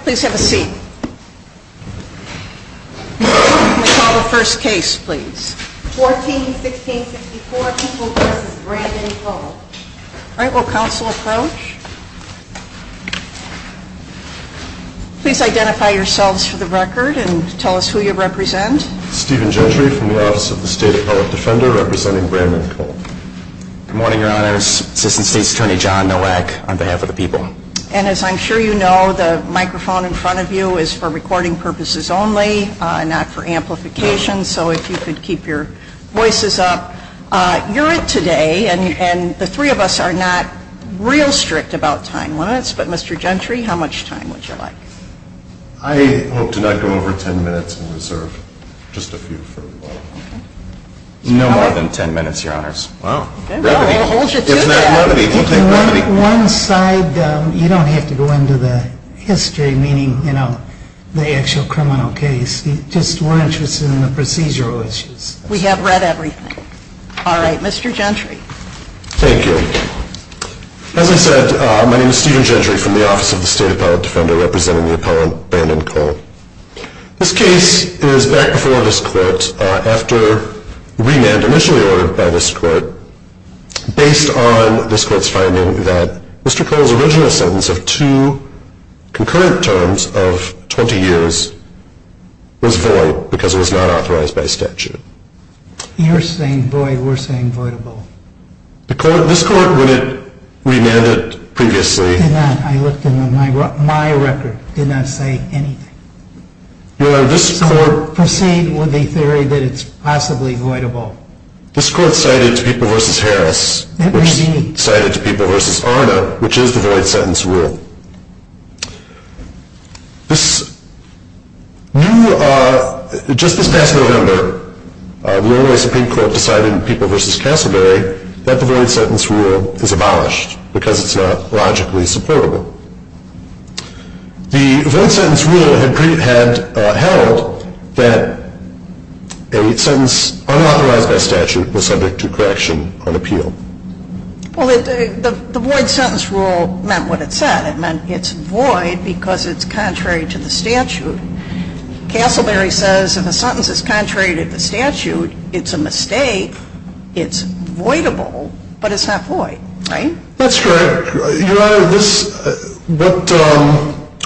Please identify yourselves for the record and tell us who you represent. Stephen Gentry from the Office of the State Appellate Defender representing Brandon Cole. Assistant State's Attorney John Nowak on behalf of the people. And as I'm sure you know the microphone in front of you is for recording purposes only, not for amplification, so if you could keep your voices up. You're it today, and the three of us are not real strict about time limits, but Mr. Gentry, how much time would you like? I hope to not go over 10 minutes and reserve just a few for the law. No more than 10 minutes, your honors. Well, we'll hold you to that. One side, you don't have to go into the history, meaning, you know, the actual criminal case, just we're interested in the procedural issues. We have read everything. All right, Mr. Gentry. Thank you. As I said, my name is Stephen Gentry from the Office of the State Appellate Defender, representing the appellant, Brandon Cole. This case is back before this court after remand initially ordered by this court based on this court's finding that Mr. Cole's original sentence of two concurrent terms of 20 years was void because it was not authorized by statute. You're saying void, we're saying voidable. This court, when it remanded previously. Did not, I looked in my record, did not say anything. Well, this court. Proceed with the theory that it's possibly voidable. This court cited to People v. Harris. That was me. Cited to People v. Arna, which is the void sentence rule. This, you, just this past November, the only way Supreme Court decided in People v. Castleberry that the void sentence rule is abolished because it's not logically supportable. The void sentence rule had held that a sentence unauthorized by statute was subject to correction on appeal. Well, the void sentence rule meant what it said. It meant it's void because it's contrary to the statute. Castleberry says if a sentence is contrary to the statute, it's a mistake. It's voidable, but it's not void, right? That's correct. Your Honor,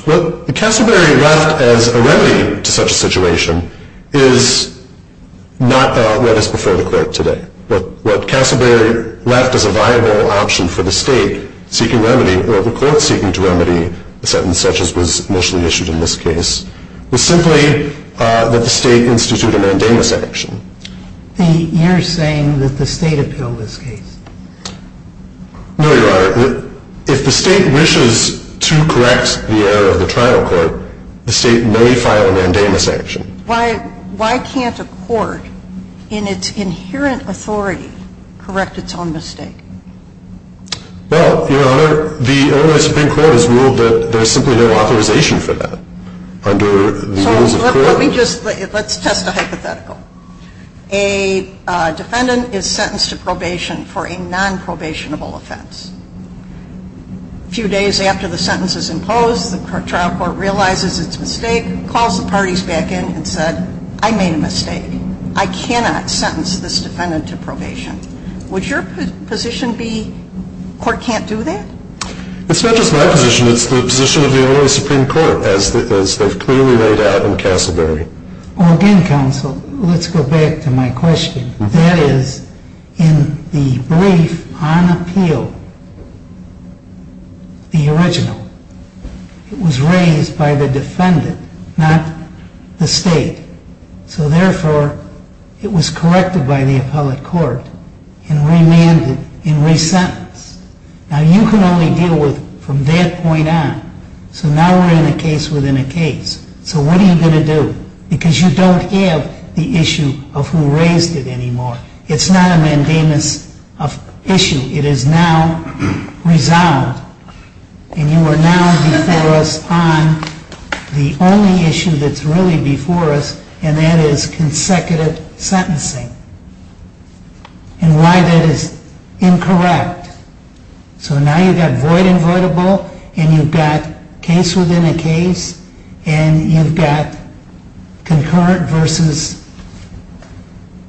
what Castleberry left as a remedy to such a situation is not what is before the court today. What Castleberry left as a viable option for the state seeking remedy, or as initially issued in this case, was simply that the state institute a mandamus action. You're saying that the state appealed this case? No, Your Honor. If the state wishes to correct the error of the trial court, the state may file a mandamus action. Why can't a court, in its inherent authority, correct its own mistake? Well, Your Honor, the Illinois Supreme Court has ruled that there's simply no authorization for that under the rules of the court. Let's test a hypothetical. A defendant is sentenced to probation for a non-probationable offense. A few days after the sentence is imposed, the trial court realizes its mistake, calls the parties back in and said, I made a mistake. I cannot sentence this defendant to probation. Would your position be, court can't do that? It's not just my position, it's the position of the Illinois Supreme Court, as they've clearly laid out in Castleberry. Again, counsel, let's go back to my question. That is, in the brief on appeal, the original. It was raised by the defendant, not the state. So therefore, it was corrected by the appellate court, and remanded, and resentenced. Now you can only deal with, from that point on. So now we're in a case within a case. So what are you going to do? Because you don't have the issue of who raised it anymore. It's not a mandamus of issue. It is now resolved, and you are now before us on the only issue that's really before us, and that is consecutive sentencing. And why that is incorrect. So now you've got void and voidable, and you've got case within a case. And you've got concurrent versus,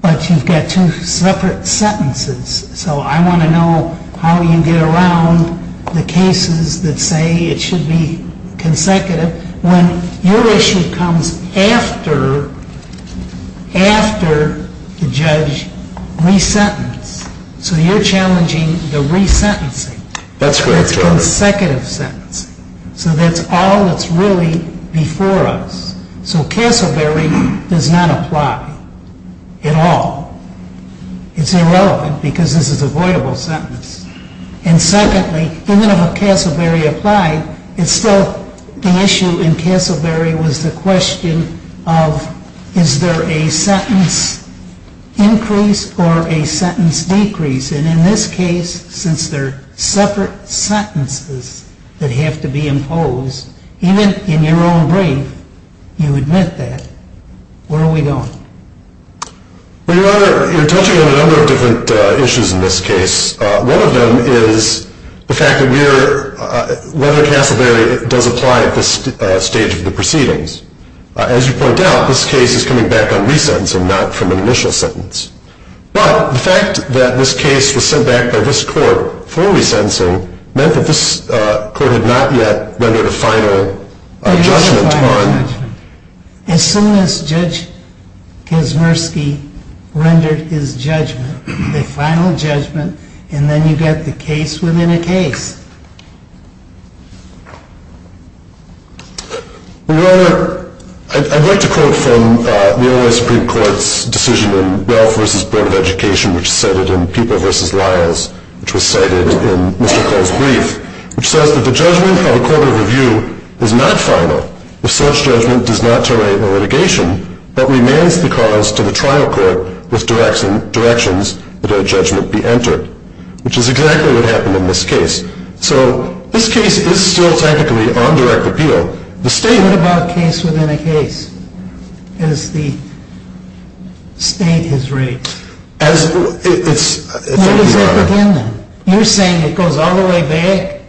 but you've got two separate sentences. So I want to know how you get around the cases that say it should be consecutive. When your issue comes after the judge resentenced. So you're challenging the resentencing. That's correct, Your Honor. That's consecutive sentencing. So that's all that's really before us. So Castleberry does not apply at all. It's irrelevant, because this is a voidable sentence. And secondly, even if a Castleberry applied, it's still the issue in Castleberry was the question of, is there a sentence increase or a sentence decrease? And in this case, since they're separate sentences that have to be imposed, even in your own brief, you admit that. Where are we going? Well, Your Honor, you're touching on a number of different issues in this case. One of them is the fact that we're, whether Castleberry does apply at this stage of the proceedings. As you point out, this case is coming back on resentencing, not from an initial sentence. But the fact that this case was sent back by this court for resentencing meant that this court had not yet rendered a final judgment on. As soon as Judge Kaczmarski rendered his judgment, the final judgment, and then you get the case within a case. Well, Your Honor, I'd like to quote from the only Supreme Court's decision in Ralph v. Board of Education, which said it in People v. Lyles, which was cited in Mr. Cole's brief, which says that the judgment of a court of review is not final if such judgment does not terminate the litigation, but remains the cause to the trial court with directions that a judgment be entered. Which is exactly what happened in this case. So this case is still technically on direct appeal. The state- What about case within a case? As the state has rated? As, it's- Where does that begin then? You're saying it goes all the way back?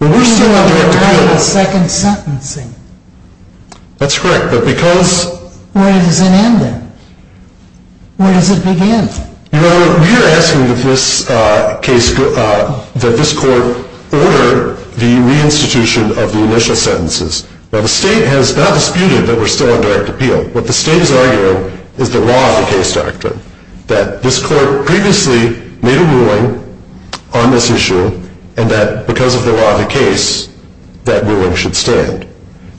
Well, we're still on direct appeal. We're still on direct appeal with second sentencing. That's correct, but because- Where does it end then? Where does it begin? Your Honor, we are asking that this court order the reinstitution of the initial sentences. Now, the state has not disputed that we're still on direct appeal. What the state is arguing is the law of the case doctrine. That this court previously made a ruling on this issue. And that because of the law of the case, that ruling should stand.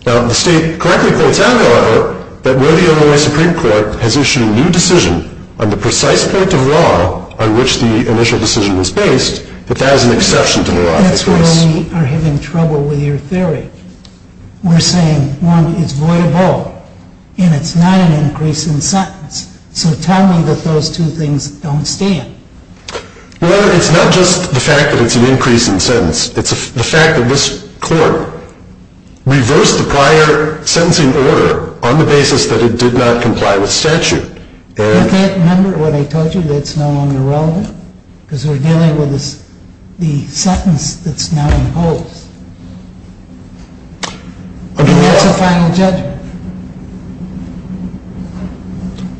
Now, the state correctly quotes out, however, that where the Illinois Supreme Court has issued a new decision on the precise point of law on which the initial decision was based, that that is an exception to the law of the case. That's where we are having trouble with your theory. We're saying, one, it's void of all. And it's not an increase in sentence. So tell me that those two things don't stand. Your Honor, it's not just the fact that it's an increase in sentence. It's the fact that this court reversed the prior sentencing order on the basis that it did not comply with statute. You can't remember what I told you that's no longer relevant? Because we're dealing with the sentence that's now imposed. That's a final judgment.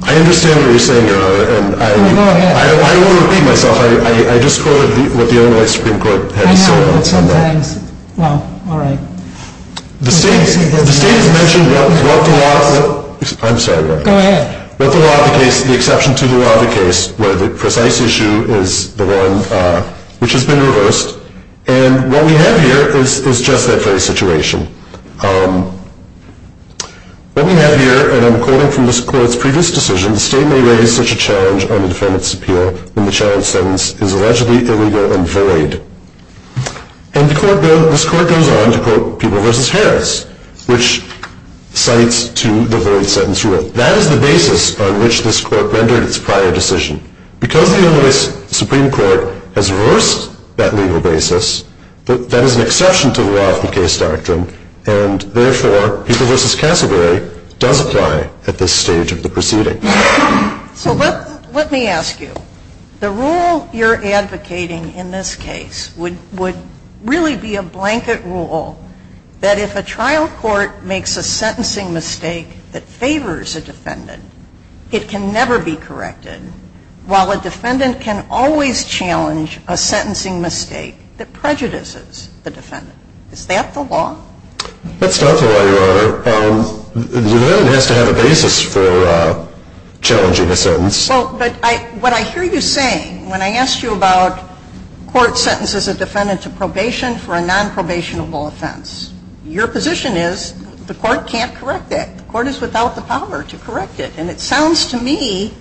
I understand what you're saying, Your Honor. I don't want to repeat myself. I just quoted what the Illinois Supreme Court had to say on that. I know, but sometimes, well, all right. The state has mentioned what the law of the case, the exception to the law of the case, where the precise issue is the one which has been reversed. And what we have here is just that very situation. What we have here, and I'm quoting from this court's previous decision, the state may raise such a challenge on the defendant's appeal when the challenge sentence is allegedly illegal and void. And this court goes on to quote Peeble v. Harris, which cites to the void sentence rule. That is the basis on which this court rendered its prior decision. Because the Illinois Supreme Court has reversed that legal basis, that is an exception to the law of the case doctrine, and therefore Peeble v. Cassegary does apply at this stage of the proceeding. So let me ask you, the rule you're advocating in this case would really be a blanket rule that if a trial court makes a sentencing mistake that favors a defendant, it can never be corrected, while a defendant can always challenge a sentencing mistake that prejudices the defendant. Is that the law? That's not the law, Your Honor. The defendant has to have a basis for challenging a sentence. But what I hear you saying, when I asked you about court sentences a defendant to probation for a nonprobationable offense, your position is the court can't correct that. The court is without the power to correct it. And it sounds to me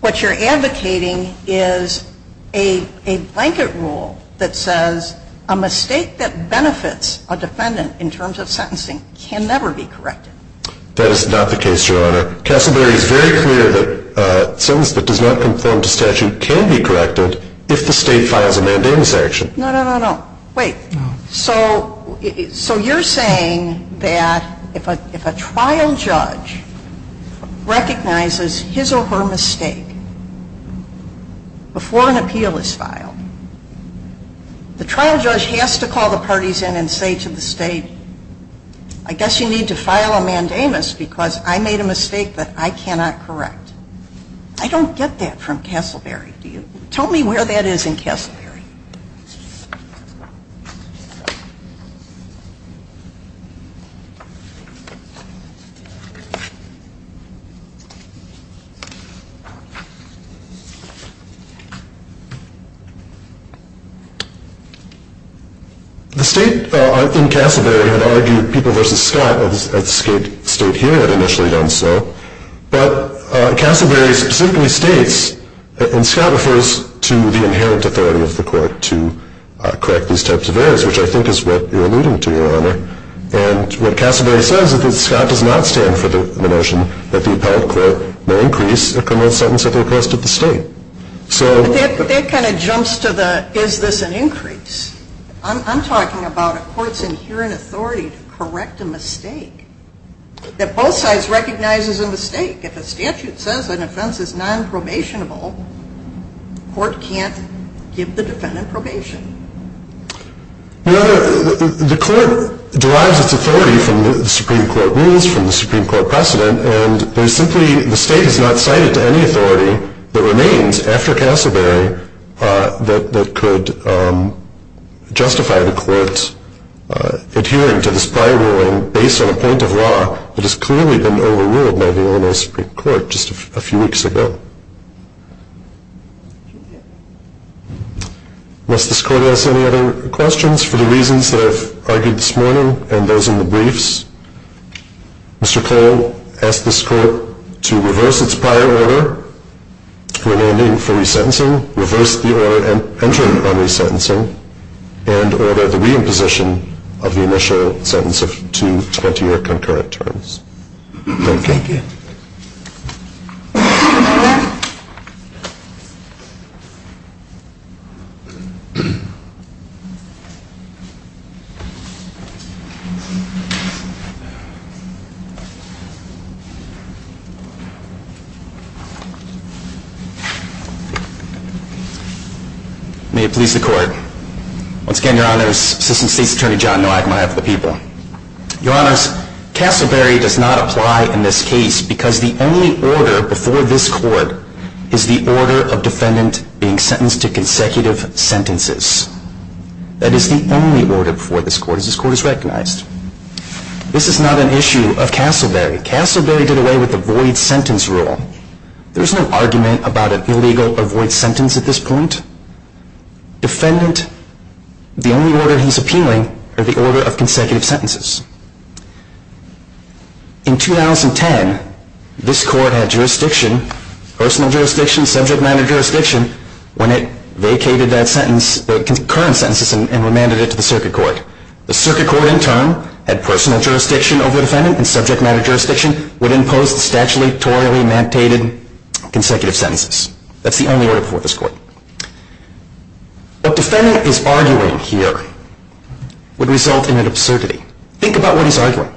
what you're advocating is a blanket rule that says a mistake that benefits a defendant in terms of sentencing can never be corrected. That is not the case, Your Honor. Cassegary is very clear that a sentence that does not conform to statute can be corrected if the State files a mandamus action. No, no, no, no. Wait. No. So you're saying that if a trial judge recognizes his or her mistake before an appeal is filed, the trial judge has to call the parties in and say to the State, I guess you need to file a mandamus because I made a mistake that I cannot correct. I don't get that from Casselberry. Tell me where that is in Casselberry. The State in Casselberry had argued People v. Scott, as the State here had initially done so. But Casselberry specifically states, and Scott refers to the inherent authority of the court to correct these types of errors, which I think is what you're alluding to, Your Honor. And what Casselberry says is that Scott does not stand for the notion that the appellate court may increase a criminal sentence if it requested the State. But that kind of jumps to the is this an increase. I'm talking about a court's inherent authority to correct a mistake. That both sides recognize is a mistake. If a statute says an offense is nonprobationable, the court can't give the defendant probation. Your Honor, the court derives its authority from the Supreme Court rules, from the Supreme Court precedent, and there's simply, the State has not cited any authority that remains after Casselberry that could justify the court adhering to this prior ruling based on a point of law that has clearly been overruled by the Illinois Supreme Court just a few weeks ago. Unless this court has any other questions for the reasons that I've argued this morning and those in the briefs, Mr. Cole asked this court to reverse its prior order, remanding for resentencing, reverse the order entered on resentencing, and order the reimposition of the initial sentence of two 20-year concurrent terms. Thank you. May it please the court. Once again, Your Honors, Assistant State's Attorney John Noack, on behalf of the people. Your Honors, Casselberry does not apply in this case because the only order before this court is the order of defendant being sentenced to consecutive sentences. That is the only order before this court, as this court has recognized. This is not an issue of Casselberry. Casselberry did away with the void sentence rule. There is no argument about an illegal avoid sentence at this point. Defendant, the only order he's appealing, are the order of consecutive sentences. In 2010, this court had jurisdiction, personal jurisdiction, subject matter jurisdiction, when it vacated that sentence, the concurrent sentences, and remanded it to the circuit court. The circuit court, in turn, had personal jurisdiction over the defendant, and subject matter jurisdiction would impose the statutorily mandated consecutive sentences. That's the only order before this court. What defendant is arguing here would result in an absurdity. Think about what he's arguing.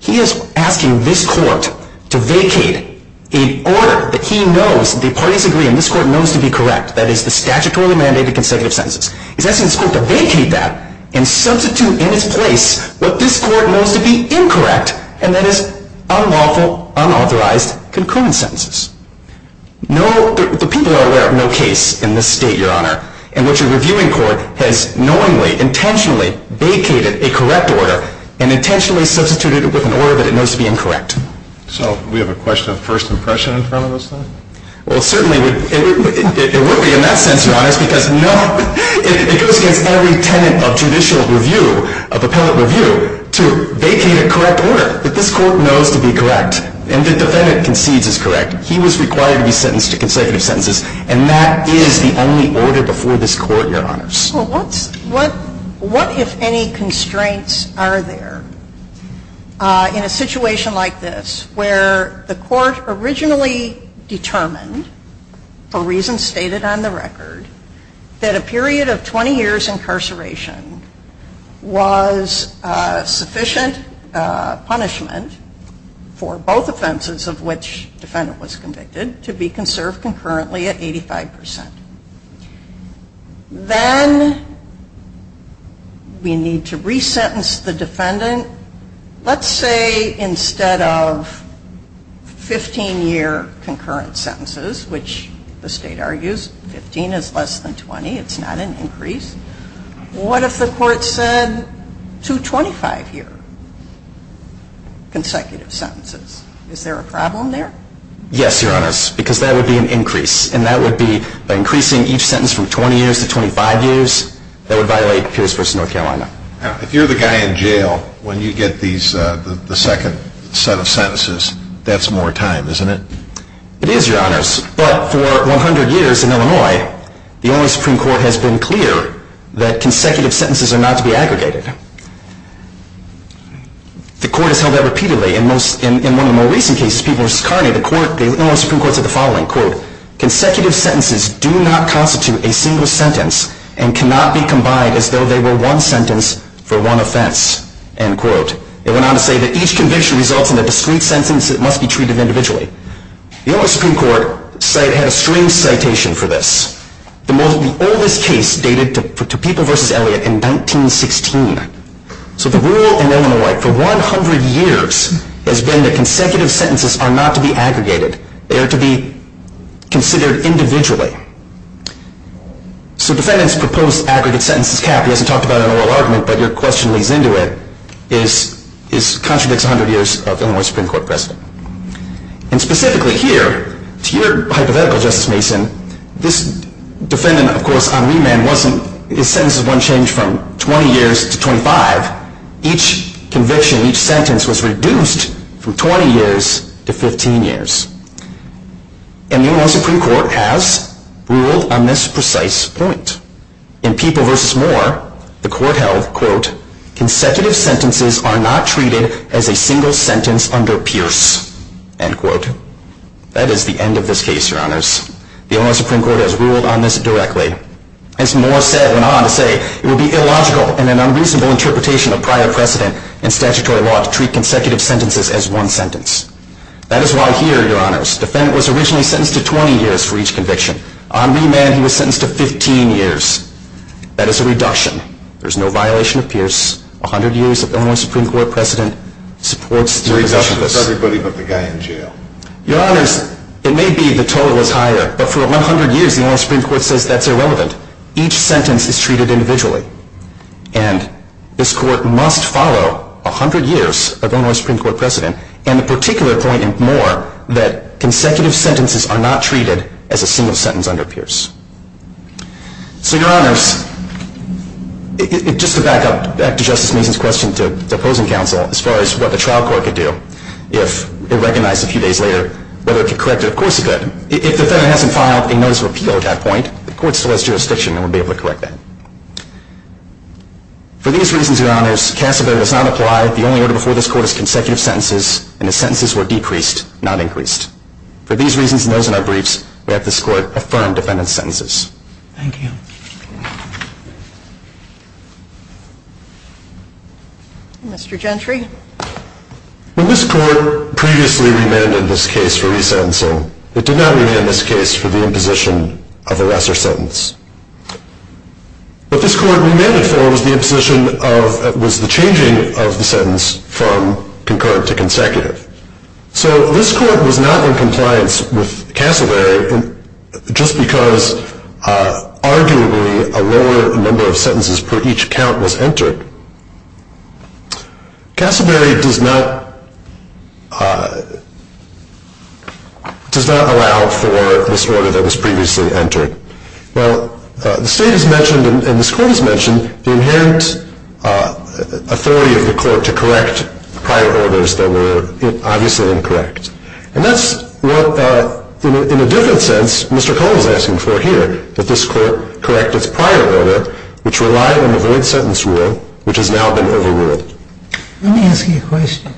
He is asking this court to vacate an order that he knows, the parties agree, and this court knows to be correct, that is the statutorily mandated consecutive sentences. He's asking this court to vacate that and substitute in its place what this court knows to be incorrect, and that is unlawful, unauthorized, concurrent sentences. The people are aware of no case in this state, Your Honor, in which a reviewing court has knowingly, intentionally vacated a correct order and intentionally substituted it with an order that it knows to be incorrect. So, we have a question of first impression in front of us, then? Well, certainly, it would be in that sense, Your Honor, because it goes against every tenet of judicial review, of appellate review, to vacate a correct order that this court knows to be correct, and the defendant concedes is correct. He was required to be sentenced to consecutive sentences, and that is the only order before this court, Your Honors. Well, what if any constraints are there in a situation like this, where the court originally determined, for reasons stated on the record, that a period of 20 years incarceration was sufficient punishment for both offenses of which the defendant was convicted, to be conserved concurrently at 85 percent? Then, we need to re-sentence the defendant. Then, let's say instead of 15-year concurrent sentences, which the state argues 15 is less than 20, it's not an increase, what if the court said two 25-year consecutive sentences? Is there a problem there? Yes, Your Honors, because that would be an increase, and that would be by increasing each sentence from 20 years to 25 years, that would violate Pierce v. North Carolina. Now, if you're the guy in jail, when you get the second set of sentences, that's more time, isn't it? It is, Your Honors, but for 100 years in Illinois, the Illinois Supreme Court has been clear that consecutive sentences are not to be aggregated. The court has held that repeatedly. In one of the more recent cases, Peoples v. Carney, the Illinois Supreme Court said the following, quote, consecutive sentences do not constitute a single sentence and cannot be combined as though they were one sentence for one offense. End quote. It went on to say that each conviction results in a discrete sentence that must be treated individually. The Illinois Supreme Court had a strange citation for this. The oldest case dated to Peoples v. Elliott in 1916. So the rule in Illinois for 100 years has been that consecutive sentences are not to be aggregated. They are to be considered individually. So defendant's proposed aggregate sentence is capped. He hasn't talked about an oral argument, but your question lays into it. It contradicts 100 years of Illinois Supreme Court precedent. And specifically here, to your hypothetical, Justice Mason, this defendant, of course, on remand, his sentences weren't changed from 20 years to 25. Each conviction, each sentence was reduced from 20 years to 15 years. And the Illinois Supreme Court has ruled on this precise point. In Peoples v. Moore, the court held, quote, consecutive sentences are not treated as a single sentence under Pierce. End quote. That is the end of this case, Your Honors. The Illinois Supreme Court has ruled on this directly. As Moore said, went on to say, it would be illogical and an unreasonable interpretation of prior precedent in statutory law to treat consecutive sentences as one sentence. That is why here, Your Honors, defendant was originally sentenced to 20 years for each conviction. On remand, he was sentenced to 15 years. That is a reduction. There is no violation of Pierce. 100 years of Illinois Supreme Court precedent supports the position of this. It's a reduction for everybody but the guy in jail. Your Honors, it may be the total is higher, but for 100 years, the Illinois Supreme Court says that's irrelevant. Each sentence is treated individually. And this court must follow 100 years of Illinois Supreme Court precedent and the particular point in Moore that consecutive sentences are not treated as a single sentence under Pierce. So, Your Honors, just to back up, back to Justice Mason's question to opposing counsel as far as what the trial court could do if it recognized a few days later whether it could correct it. Of course it could. If the defendant hasn't filed a notice of appeal at that point, the court still has jurisdiction and would be able to correct that. For these reasons, Your Honors, Cassavetter does not apply. The only order before this court is consecutive sentences, and the sentences were decreased, not increased. For these reasons and those in our briefs, we have this court affirm defendant's sentences. Thank you. Mr. Gentry. When this court previously remanded this case for re-sentencing, it did not remand this case for the imposition of arrest or sentence. What this court remanded for was the changing of the sentence from concurrent to consecutive. So this court was not in compliance with Cassavetter just because arguably a lower number of sentences per each count was entered. Cassavetter does not allow for this order that was previously entered. The state has mentioned, and this court has mentioned, the inherent authority of the court to correct prior orders that were obviously incorrect. And that's what, in a different sense, Mr. Cohen is asking for here, that this court correct its prior order, which relied on the void sentence rule, which has now been overruled. Let me ask you a question.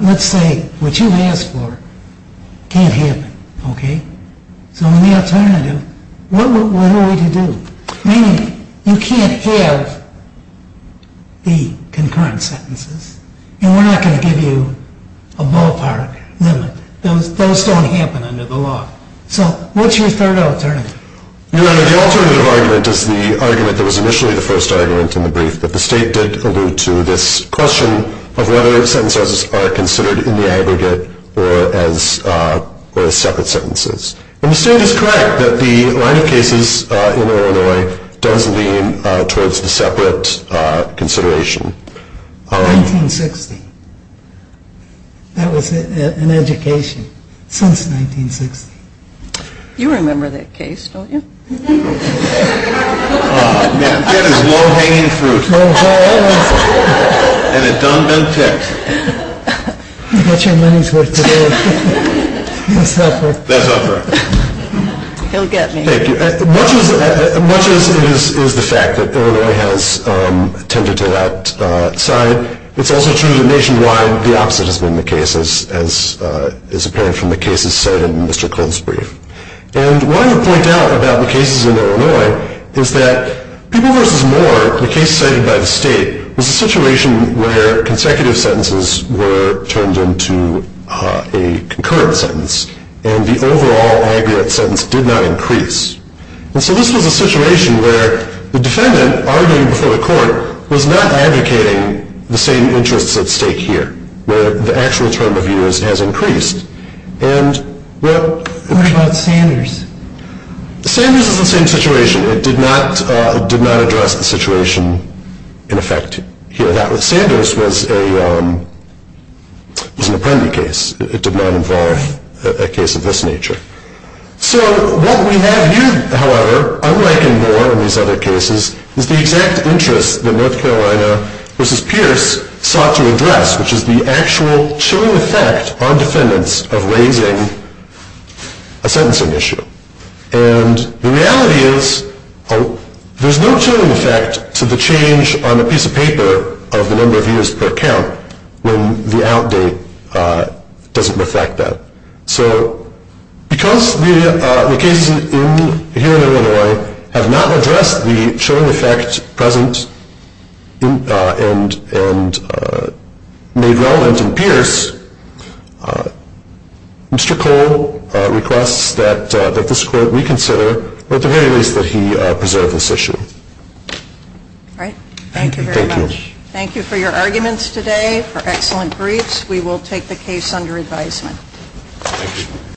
Let's say what you asked for can't happen. Okay? So the alternative, what are we to do? Meaning you can't have the concurrent sentences, and we're not going to give you a ballpark limit. Those don't happen under the law. So what's your third alternative? Your Honor, the alternative argument is the argument that was initially the first argument in the brief, but the state did allude to this question of whether sentences are considered in the aggregate or as separate sentences. And the state is correct that the line of cases in Illinois does lean towards the separate consideration. 1960. That was an education since 1960. You remember that case, don't you? Ah, man, that is low-hanging fruit. And it done been picked. You got your money's worth today. That's up for it. He'll get me. Thank you. Much as it is the fact that Illinois has tended to that side, it's also true that nationwide the opposite has been the case, as is apparent from the cases cited in Mr. Cohen's brief. And what I would point out about the cases in Illinois is that People v. Moore, the case cited by the state, was a situation where consecutive sentences were turned into a concurrent sentence, and the overall aggregate sentence did not increase. And so this was a situation where the defendant, arguing before the court, was not advocating the same interests at stake here, where the actual term of view has increased. What about Sanders? Sanders is the same situation. It did not address the situation in effect here. Sanders was an Apprendi case. It did not involve a case of this nature. So what we have here, however, unlike in Moore and these other cases, is the exact interests that North Carolina v. Pierce sought to address, which is the actual chilling effect on defendants of raising a sentencing issue. And the reality is there's no chilling effect to the change on a piece of paper of the number of years per count when the out date doesn't reflect that. So because the cases here in Illinois have not addressed the chilling effect present and made relevant in Pierce, Mr. Cole requests that this court reconsider, or at the very least that he preserve this issue. All right. Thank you very much. Thank you. Thank you for your arguments today, for excellent briefs. We will take the case under advisement. Thank you.